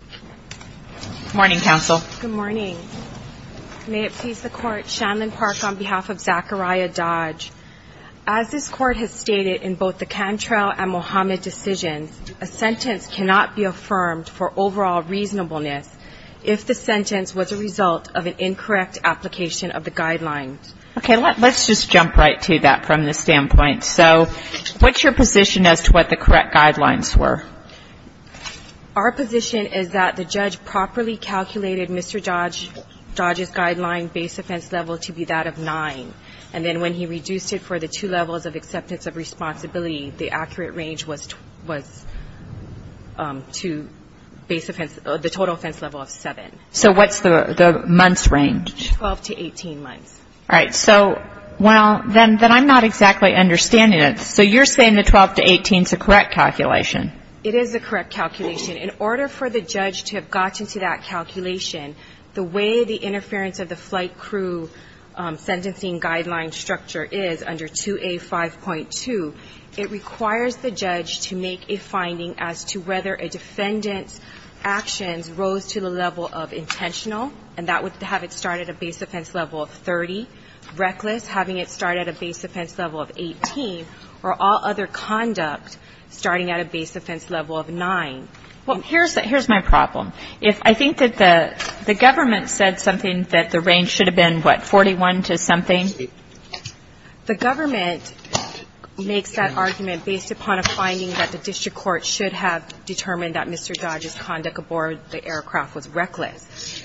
Good morning Councillor. May it please the court, Shanlyn Park on behalf of Zachariah Dodge. As this court has stated in both the Cantrell and Mohamed decisions a sentence cannot be affirmed for overall reasonableness if the sentence was a result of an incorrect application of the guidelines. Okay, let's just jump right to that from the standpoint. So what's your position as to what the correct guidelines were? Our position is that the judge properly calculated Mr. Dodge's guideline base offense level to be that of nine. And then when he reduced it for the two levels of acceptance of responsibility, the accurate range was to base offense, the total offense level of seven. So what's the month's range? Twelve to eighteen months. All right, so, well, then I'm not exactly understanding it. So you're saying the twelve to eighteen is the correct calculation? It is the correct calculation. In order for the judge to have gotten to that calculation, the way the interference of the flight crew sentencing guideline structure is under 2A5.2, it requires the judge to make a finding as to whether a defendant's actions rose to the level of intentional, and that would have it start at a base offense level of 30, reckless, having it start at a base offense level of 18, or all other conduct starting at a base offense level of nine. Well, here's my problem. If I think that the government said something that the range should have been, what, 41 to something? The government makes that argument based upon a finding that the district court should have determined that Mr. Dodge's conduct aboard the aircraft was reckless.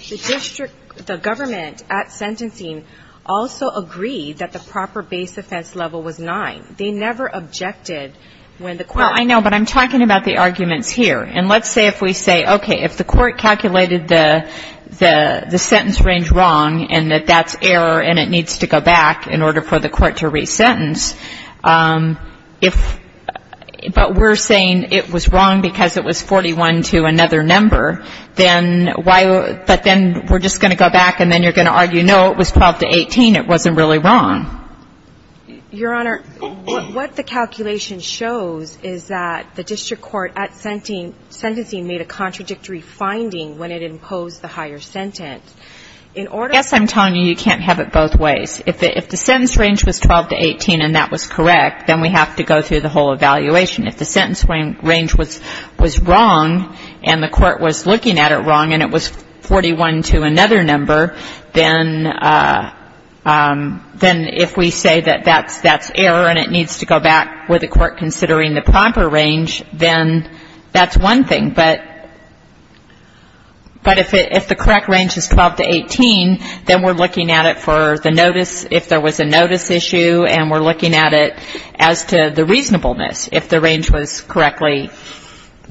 The district, the government at sentencing also agreed that the proper base offense level was nine. They never objected when the court. Well, I know, but I'm talking about the arguments here. And let's say if we say, okay, if the court calculated the sentence range wrong and that that's error and it needs to go back in order for the court to resentence, if, but we're saying it was wrong because it was 41 to another number, then why, but then we're just going to go back and then you're going to argue, no, it was 12 to 18, it wasn't really wrong. Your Honor, what the calculation shows is that the district court at sentencing made a contradictory finding when it imposed the higher sentence. I guess I'm telling you you can't have it both ways. If the sentence range was 12 to 18 and that was correct, then we have to go through the whole evaluation. If the sentence range was wrong and the court was looking at it wrong and it was 41 to another number, then if we say that that's error and it needs to go back with the court considering the proper range, then that's one thing. But if the correct range is 12 to 18, then we're looking at it for the notice, if there was a notice issue, and we're looking at it as to the reasonableness, if the range was correctly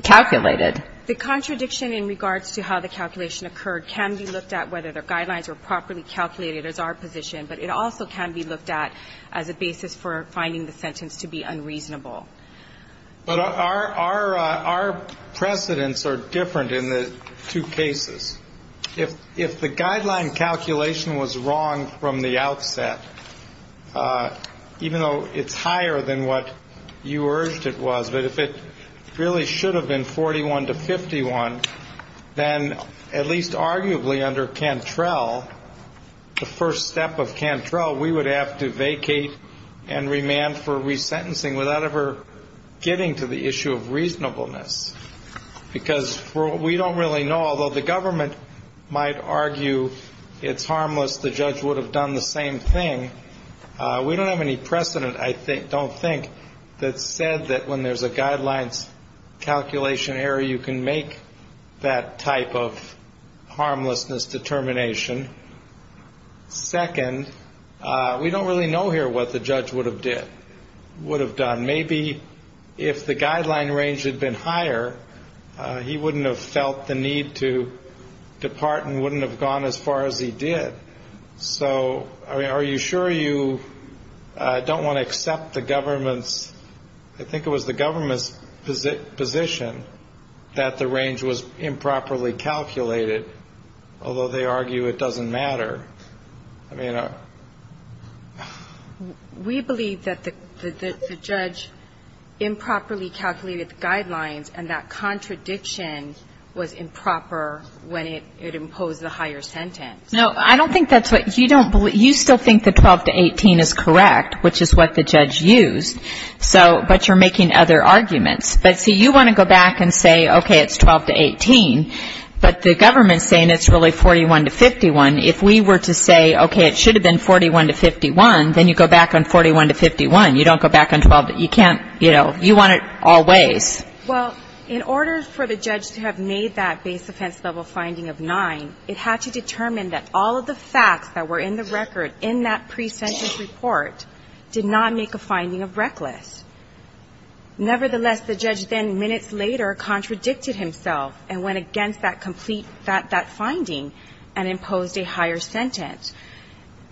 calculated. The contradiction in regards to how the calculation occurred can be looked at, whether the guidelines were properly calculated as our position, but it also can be looked at as a basis for finding the sentence to be unreasonable. But our precedents are different in the two cases. If the guideline calculation was wrong from the outset, even though it's higher than what you urged it was, but if it really should have been 41 to 51, then at least arguably under Cantrell, the first step of Cantrell, we would have to vacate and remand for resentencing without ever getting to the issue of reasonableness, because we don't really know. Although the government might argue it's harmless, the judge would have done the same thing. We don't have any precedent, I don't think, that said that when there's a guidelines calculation error, you can make that type of harmlessness determination. Second, we don't really know here what the judge would have done. Maybe if the guideline range had been higher, he wouldn't have felt the need to depart and wouldn't have gone as far as he did. So, I mean, are you sure you don't want to accept the government's – I think it was the government's position that the range was improperly calculated, although they argue it doesn't matter? I mean, are – We believe that the judge improperly calculated the guidelines, and that contradiction was improper when it imposed the higher sentence. No, I don't think that's what – you don't – you still think the 12 to 18 is correct, which is what the judge used. So – but you're making other arguments. But, see, you want to go back and say, okay, it's 12 to 18, but the government's saying it's really 41 to 51. If we were to say, okay, it should have been 41 to 51, then you go back on 41 to 51. You don't go back on 12 – you can't – you know, you want it all ways. Well, in order for the judge to have made that base-offense-level finding of 9, it had to determine that all of the facts that were in the record in that pre-sentence report did not make a finding of reckless. Nevertheless, the judge then, minutes later, contradicted himself and went against that complete – that finding and imposed a higher sentence.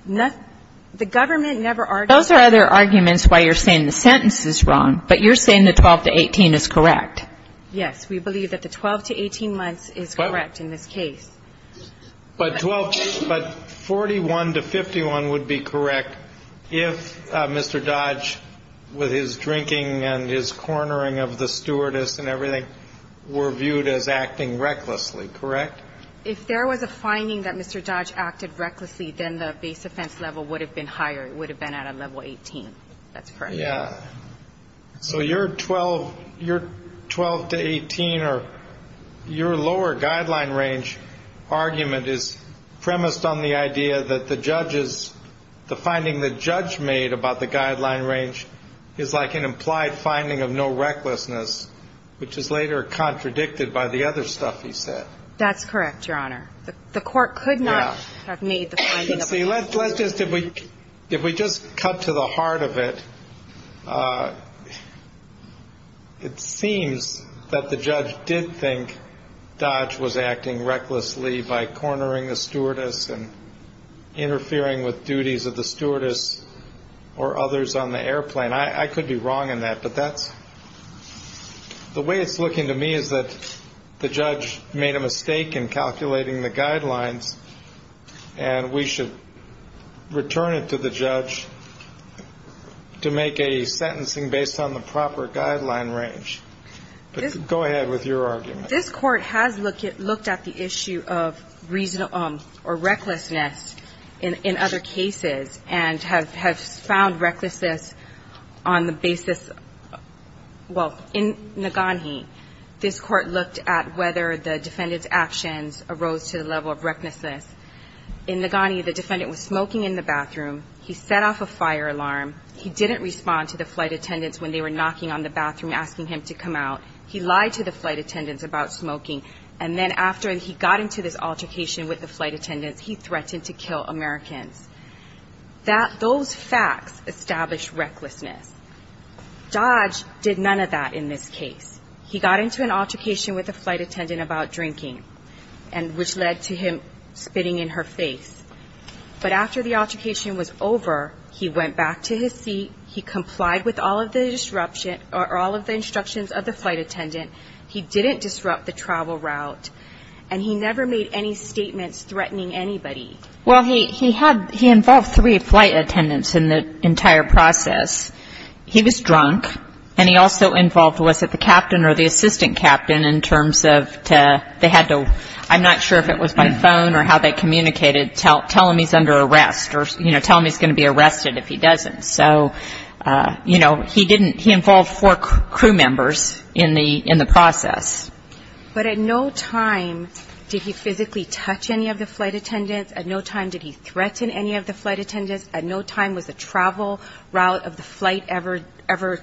The government never argued – Those are other arguments why you're saying the sentence is wrong, but you're saying the 12 to 18 is correct. Yes. We believe that the 12 to 18 months is correct in this case. But 12 – but 41 to 51 would be correct if Mr. Dodge, with his drinking and his cornering of the stewardess and everything, were viewed as acting recklessly. Correct? If there was a finding that Mr. Dodge acted recklessly, then the base-offense level would have been higher. It would have been at a level 18. That's correct. Yeah. So your 12 – your 12 to 18 or your lower guideline range argument is premised on the idea that the judge's – the finding the judge made about the guideline range is like an implied finding of no recklessness, which is later contradicted by the other stuff he said. The court could not have made the finding of no recklessness. Let's just – if we just cut to the heart of it, it seems that the judge did think Dodge was acting recklessly by cornering the stewardess and interfering with duties of the stewardess or others on the airplane. I could be wrong in that, but that's – the way it's looking to me is that the judge made a mistake in calculating the guidelines, and we should return it to the judge to make a sentencing based on the proper guideline range. But go ahead with your argument. This court has looked at the issue of reasonable – or recklessness in other cases and has found recklessness on the basis – well, in Nagani, this court looked at whether the defendant's actions arose to the level of recklessness. In Nagani, the defendant was smoking in the bathroom. He set off a fire alarm. He didn't respond to the flight attendants when they were knocking on the bathroom asking him to come out. He lied to the flight attendants about smoking, and then after he got into this altercation with the flight attendants, he threatened to kill Americans. That – those facts established recklessness. Dodge did none of that in this case. He got into an altercation with a flight attendant about drinking, and which led to him spitting in her face. But after the altercation was over, he went back to his seat. He complied with all of the instructions of the flight attendant. He didn't disrupt the travel route, and he never made any statements threatening anybody. Well, he had – he involved three flight attendants in the entire process. He was drunk, and he also involved, was it the captain or the assistant captain, in terms of they had to – I'm not sure if it was by phone or how they communicated, tell him he's under arrest or, you know, tell him he's going to be arrested if he doesn't. So, you know, he didn't – he involved four crew members in the process. But at no time did he physically touch any of the flight attendants. At no time did he threaten any of the flight attendants. At no time was the travel route of the flight ever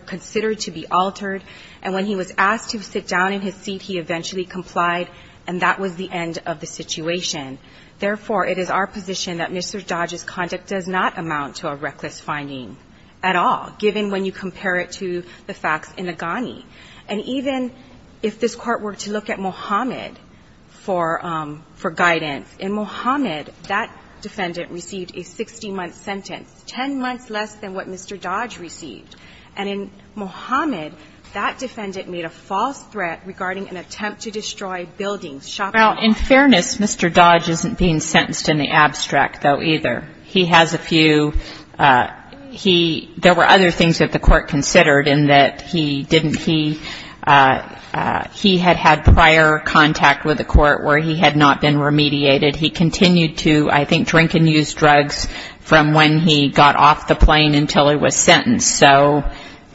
considered to be altered. And when he was asked to sit down in his seat, he eventually complied, and that was the end of the situation. Therefore, it is our position that Mr. Dodge's conduct does not amount to a reckless finding at all, given when you compare it to the facts in the GANI. And even if this Court were to look at Mohamed for guidance, in Mohamed, that defendant received a 60-month sentence, 10 months less than what Mr. Dodge received. And in Mohamed, that defendant made a false threat regarding an attempt to destroy buildings, shopping malls. Well, in fairness, Mr. Dodge isn't being sentenced in the abstract, though, either. He has a few – he – there were other things that the Court considered in that he didn't – he had had prior contact with the Court where he had not been remediated. He continued to, I think, drink and use drugs from when he got off the plane until he was sentenced. So,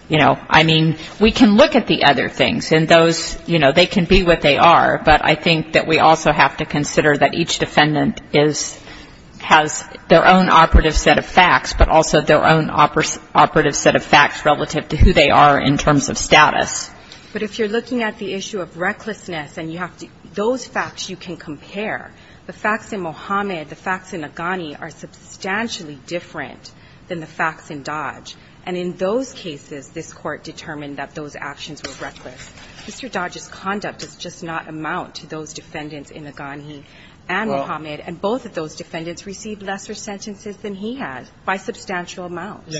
you know, I mean, we can look at the other things. And those, you know, they can be what they are, but I think that we also have to consider that each defendant is – has their own operative set of facts, but also their own operative set of facts relative to who they are in terms of status. But if you're looking at the issue of recklessness and you have to – those facts you can compare. The facts in Mohamed, the facts in Aghani are substantially different than the facts in Dodge. And in those cases, this Court determined that those actions were reckless. Mr. Dodge's conduct does just not amount to those defendants in Aghani and Mohamed. And both of those defendants received lesser sentences than he had by substantial amounts.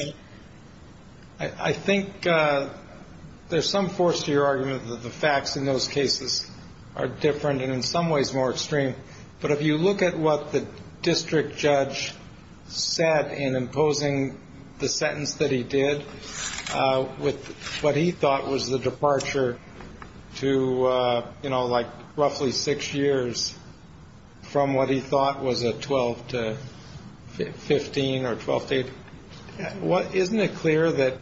I think there's some force to your argument that the facts in those cases are different and in some ways more extreme. But if you look at what the district judge said in imposing the sentence that he did, with what he thought was the departure to, you know, like roughly six years from what he thought was a 12-15 or 12-8, isn't it clear that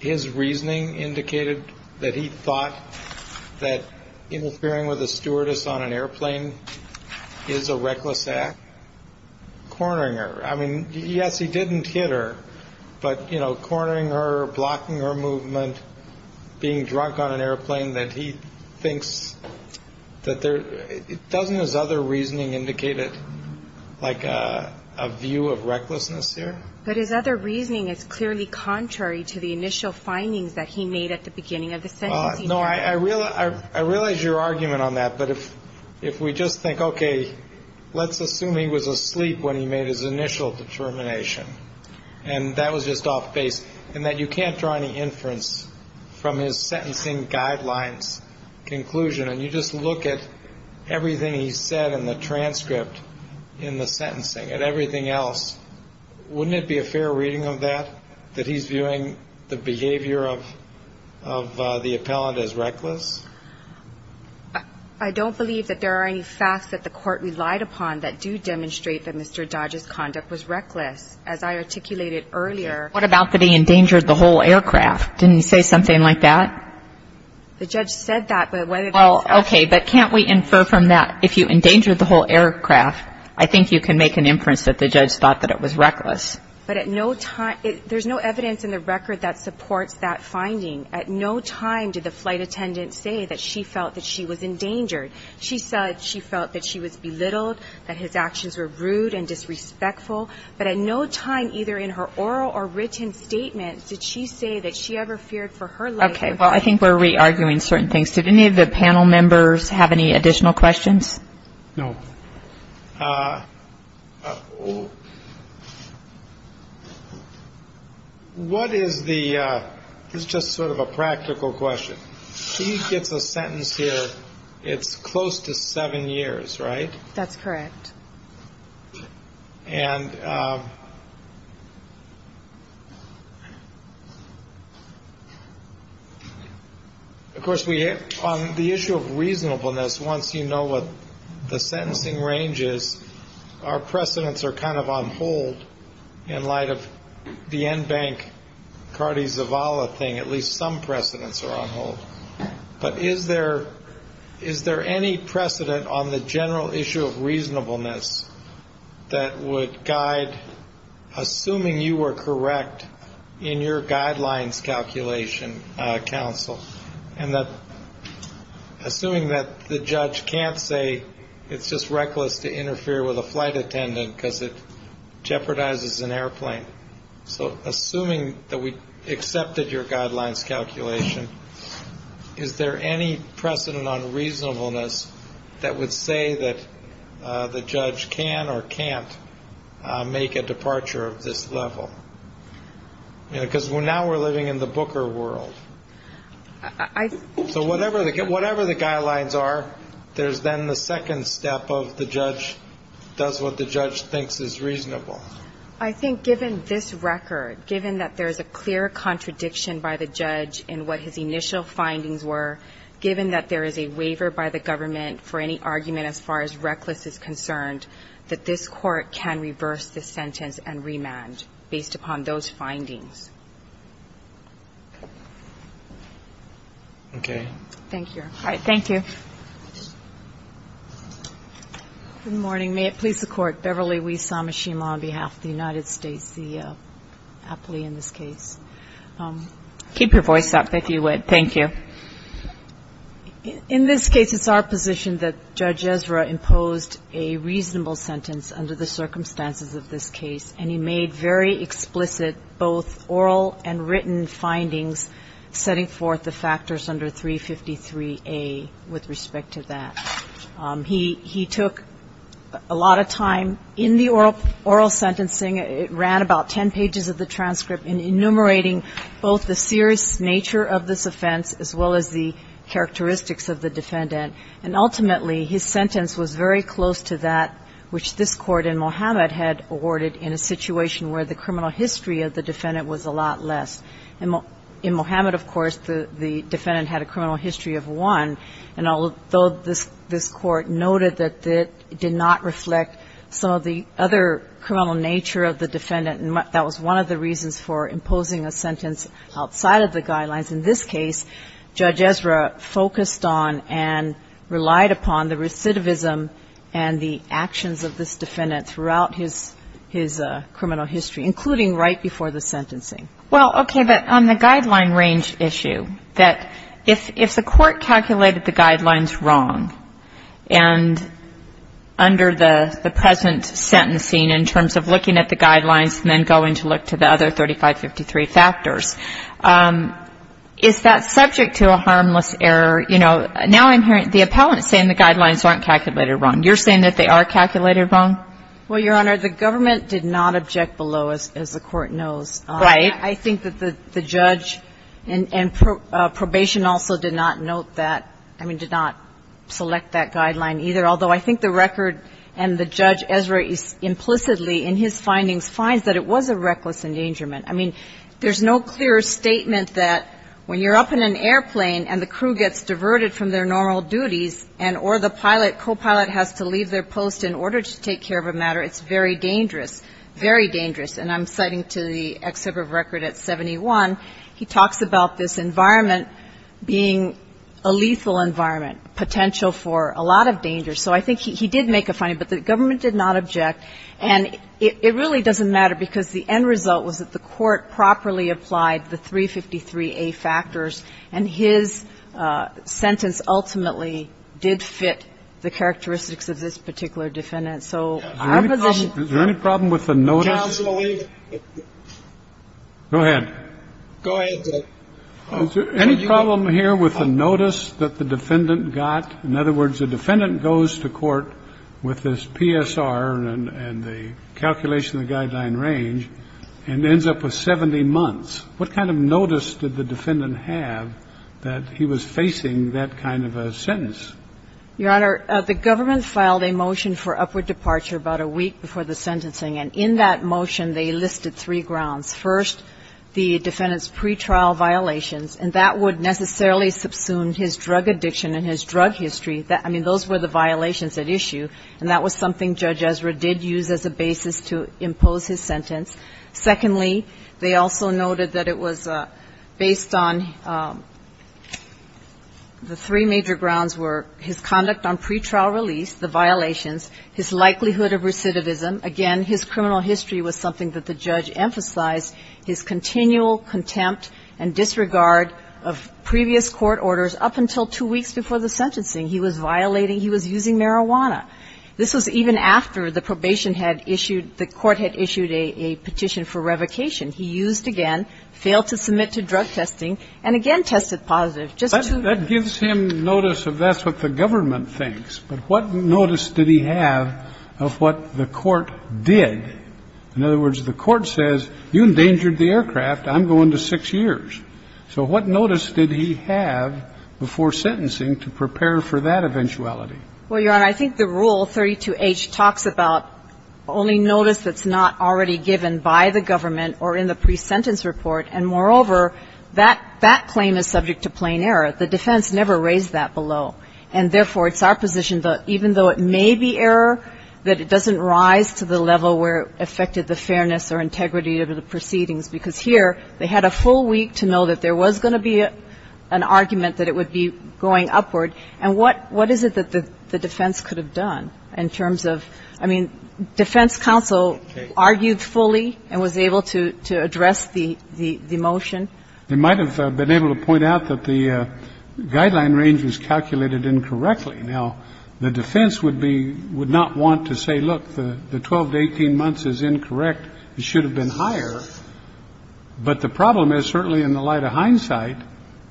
his reasoning indicated that he thought that interfering with a stewardess on an airplane is a reckless act? Cornering her. I mean, yes, he didn't hit her, but, you know, cornering her, blocking her movement, being drunk on an airplane that he thinks that there – doesn't his other reasoning indicate it like a view of recklessness here? But his other reasoning is clearly contrary to the initial findings that he made at the beginning of the sentencing. No, I realize your argument on that, but if we just think, okay, let's assume he was asleep when he made his initial determination, and that was just off base, and that you can't draw any inference from his sentencing guidelines conclusion, and you just look at everything he said in the transcript in the sentencing and everything else, wouldn't it be a fair reading of that, that he's viewing the behavior of the appellant as reckless? I don't believe that there are any facts that the Court relied upon that do demonstrate that Mr. Dodge's conduct was reckless. As I articulated earlier – What about that he endangered the whole aircraft? Didn't he say something like that? The judge said that, but whether – Well, okay, but can't we infer from that, if you endangered the whole aircraft, I think you can make an inference that the judge thought that it was reckless. But at no time – there's no evidence in the record that supports that finding. At no time did the flight attendant say that she felt that she was endangered. She said she felt that she was belittled, that his actions were rude and disrespectful. But at no time, either in her oral or written statement, did she say that she ever feared for her life. Okay, well, I think we're re-arguing certain things. Did any of the panel members have any additional questions? No. What is the – this is just sort of a practical question. She gets a sentence here, it's close to seven years, right? That's correct. And, of course, on the issue of reasonableness, once you know what the sentencing range is, our precedents are kind of on hold in light of the Enbank-Cardi-Zavala thing. At least some precedents are on hold. But is there any precedent on the general issue of reasonableness that would guide, assuming you were correct in your guidelines calculation, counsel, and assuming that the judge can't say it's just reckless to interfere with a flight attendant because it jeopardizes an airplane. So assuming that we accepted your guidelines calculation, is there any precedent on reasonableness that would say that the judge can or can't make a departure of this level? Because now we're living in the Booker world. So whatever the guidelines are, there's then the second step of the judge does what the judge thinks is reasonable. I think given this record, given that there's a clear contradiction by the judge in what his initial findings were, given that there is a waiver by the government for any argument as far as reckless is concerned, that this Court can reverse the sentence and remand based upon those findings. Okay. Thank you. All right. Thank you. Good morning. May it please the Court. Beverly Wissamashima on behalf of the United States, the appellee in this case. Keep your voice up if you would. Thank you. In this case, it's our position that Judge Ezra imposed a reasonable sentence under the circumstances of this case, and he made very explicit both oral and written findings setting forth the factors under 353A with respect to that. He took a lot of time in the oral sentencing, ran about ten pages of the transcript enumerating both the serious nature of this offense as well as the characteristics of the defendant. And ultimately, his sentence was very close to that which this Court in Mohammed had awarded in a situation where the criminal history of the defendant was a lot less. In Mohammed, of course, the defendant had a criminal history of one, and although this Court noted that it did not reflect some of the other criminal nature of the defendant, that was one of the reasons for imposing a sentence outside of the guidelines. In this case, Judge Ezra focused on and relied upon the recidivism and the actions of this defendant throughout his criminal history, including right before the sentencing. Well, okay, but on the guideline range issue, that if the Court calculated the guidelines wrong, and under the present sentencing in terms of looking at the guidelines and then going to look to the other 3553 factors, is that subject to a harmless error? You know, now I'm hearing the appellant saying the guidelines aren't calculated wrong. You're saying that they are calculated wrong? Well, Your Honor, the government did not object below, as the Court knows. Right. I think that the judge and probation also did not note that, I mean, did not select that guideline either, although I think the record and the judge, Ezra, implicitly in his findings, finds that it was a reckless endangerment. I mean, there's no clear statement that when you're up in an airplane and the crew gets diverted from their normal duties and or the pilot, copilot, has to leave their post in order to take care of a matter, it's very dangerous, and I'm citing to the excerpt of record at 71, he talks about this environment being a lethal environment, potential for a lot of danger. So I think he did make a finding, but the government did not object. And it really doesn't matter because the end result was that the Court properly applied the 353A factors, and his sentence ultimately did fit the characteristics of this particular defendant. gg Is there any problem with the notice that the defendant got? In other words, a defendant goes to court with this PSR and the calculation of the guideline range and ends up with 70 months. What kind of notice did the defendant have that he was facing that kind of a sentence? The defendant had a three-week departure, about a week before the sentencing, and in that motion they listed three grounds. First, the defendant's pretrial violations, and that would necessarily subsume his drug addiction and his drug history. I mean, those were the violations at issue, and that was something Judge Ezra did use as a basis to impose his sentence. Secondly, they also noted that it was based on the three major grounds were his conduct on pretrial release, the violations, his likelihood of recidivism. Again, his criminal history was something that the judge emphasized. His continual contempt and disregard of previous court orders up until two weeks before the sentencing. He was violating. He was using marijuana. This was even after the probation had issued, the court had issued a petition for revocation. He used again, failed to submit to drug testing, and again tested positive. Just two weeks. That gives him notice of that's what the government thinks. But what notice did he have of what the court did? In other words, the court says, you endangered the aircraft. I'm going to six years. So what notice did he have before sentencing to prepare for that eventuality? Well, Your Honor, I think the rule 32H talks about only notice that's not already given by the government or in the presentence report. And moreover, that claim is subject to plain error. The defense never raised that below. And therefore, it's our position that even though it may be error, that it doesn't rise to the level where it affected the fairness or integrity of the proceedings. Because here, they had a full week to know that there was going to be an argument that it would be going upward. And what is it that the defense could have done in terms of, I mean, defense counsel argued fully and was able to address the motion? They might have been able to point out that the guideline range was calculated incorrectly. Now, the defense would not want to say, look, the 12 to 18 months is incorrect. It should have been higher. But the problem is certainly in the light of hindsight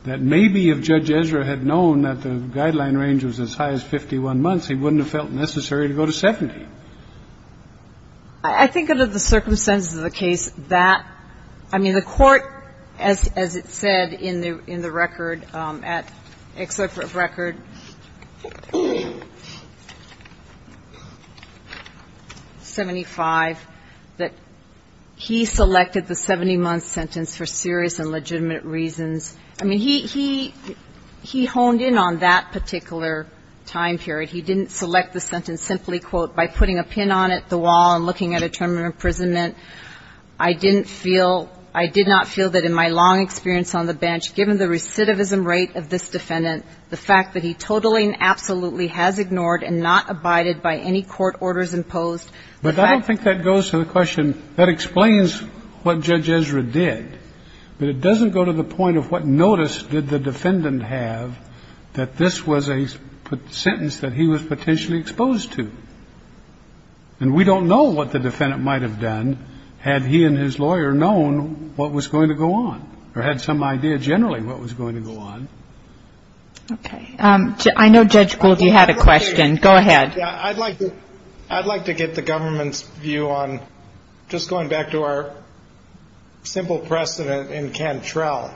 that maybe if Judge Ezra had known that the guideline range was as high as 51 months, he wouldn't have felt necessary to go to 70. I think under the circumstances of the case, that – I mean, the Court, as it said in the record at Excerpt of Record 75, that he selected the time that the court selected the 70-month sentence for serious and legitimate reasons. I mean, he – he honed in on that particular time period. He didn't select the sentence simply, quote, by putting a pin on it, the wall, and looking at a term of imprisonment. I didn't feel – I did not feel that in my long experience on the bench, given the recidivism rate of this defendant, the fact that he totally and absolutely has ignored and not abided by any court orders imposed. But I don't think that goes to the question – that explains what Judge Ezra did. But it doesn't go to the point of what notice did the defendant have that this was a sentence that he was potentially exposed to. And we don't know what the defendant might have done had he and his lawyer known what was going to go on, or had some idea generally what was going to go on. Okay. I know Judge Gould, you had a question. Go ahead. I'd like to get the government's view on – just going back to our simple precedent in Cantrell.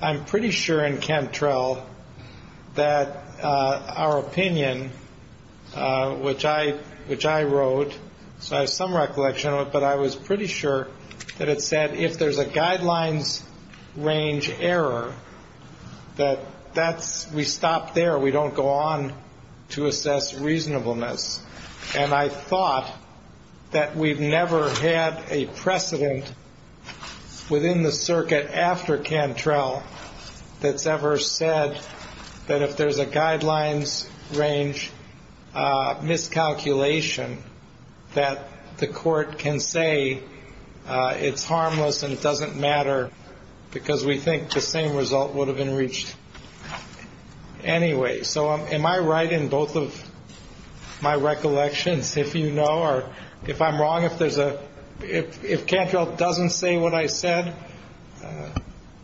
I'm pretty sure in Cantrell that our opinion, which I wrote, so I have some recollection of it, but I was pretty sure that it said if there's a guidelines range error, that that's – we stop there. We don't go on to assess reasonableness. And I thought that we've never had a precedent within the circuit after Cantrell that's ever said that if there's a guidelines range miscalculation, that the court can say it's harmless and it doesn't matter because we think the same result would have been reached anyway. So am I right in both of my recollections, if you know? Or if I'm wrong, if there's a – if Cantrell doesn't say what I said,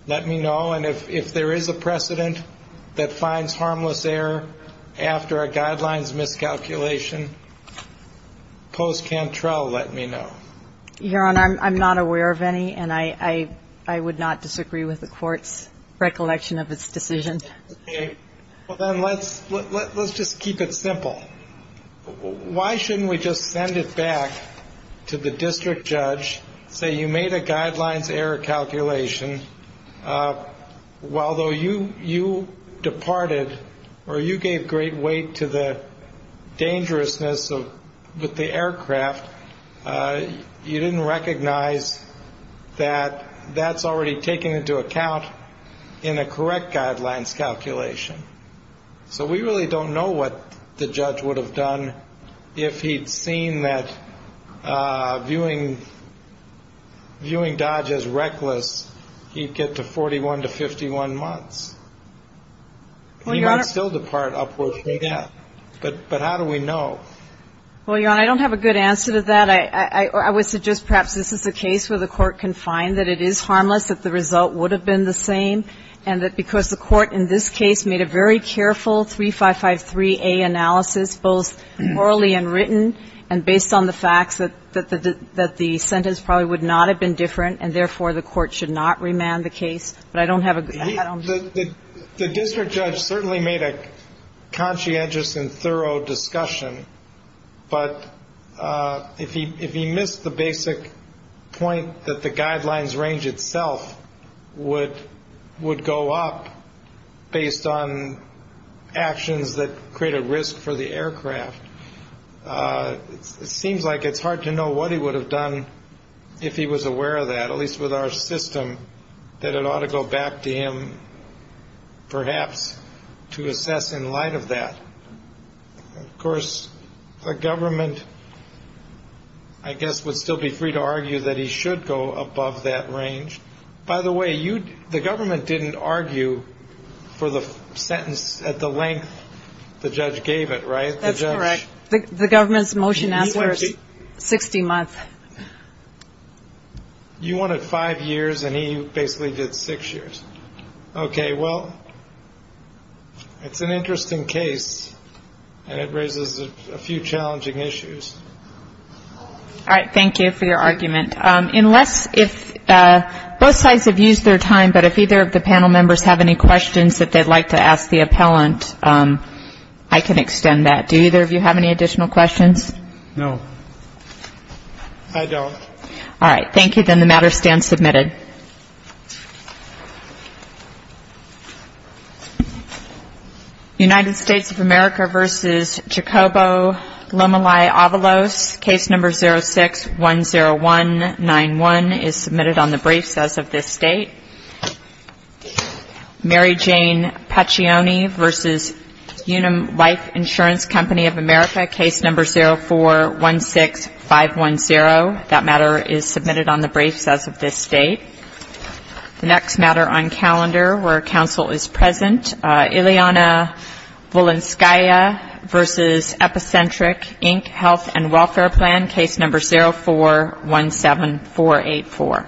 let me know. And if there is a precedent that finds harmless error after a guidelines miscalculation, post-Cantrell, let me know. Your Honor, I'm not aware of any, and I would not disagree with the court's recollection of its decision. Okay. Well, then let's just keep it simple. Why shouldn't we just send it back to the district judge, say you made a guidelines error calculation, although you departed or you gave great weight to the dangerousness with the aircraft, you didn't recognize that that's already taken into account in a correct guidelines calculation. So we really don't know what the judge would have done if he'd seen that, viewing Dodge as reckless, he'd get to 41 to 51 months. He might still depart upward from that. But how do we know? Well, Your Honor, I don't have a good answer to that. I would suggest perhaps this is a case where the court can find that it is harmless, that the result would have been the same, and that because the court in this case made a very careful 3553A analysis, both orally and written, and based on the facts that the sentence probably would not have been different, and therefore the court should not remand the case. But I don't have a good answer. The district judge certainly made a conscientious and thorough discussion. But if he missed the basic point that the guidelines range itself would go up based on actions that create a risk for the aircraft, it seems like it's hard to know what he would have done if he was aware of that, at least with our system, that it ought to go back to him perhaps to assess in light of that. Of course, the government, I guess, would still be free to argue that he should go above that range. By the way, the government didn't argue for the sentence at the length the judge gave it, right? That's correct. The government's motion answer is 60 months. You wanted five years, and he basically did six years. Okay, well, it's an interesting case, and it raises a few challenging issues. All right, thank you for your argument. Unless if both sides have used their time, but if either of the panel members have any questions that they'd like to ask the appellant, I can extend that. Do either of you have any additional questions? No. I don't. All right, thank you. Then the matter stands submitted. United States of America v. Jacobo Lomeli-Avalos, case number 06-10191, is submitted on the briefs as of this date. Mary Jane Paccioni v. Unum Life Insurance Company of America, case number 04-16510, that matter is submitted on the briefs as of this date. The next matter on calendar where counsel is present, Ileana Volenskaya v. Epicentric, Inc., Health and Welfare Plan, case number 04-17484.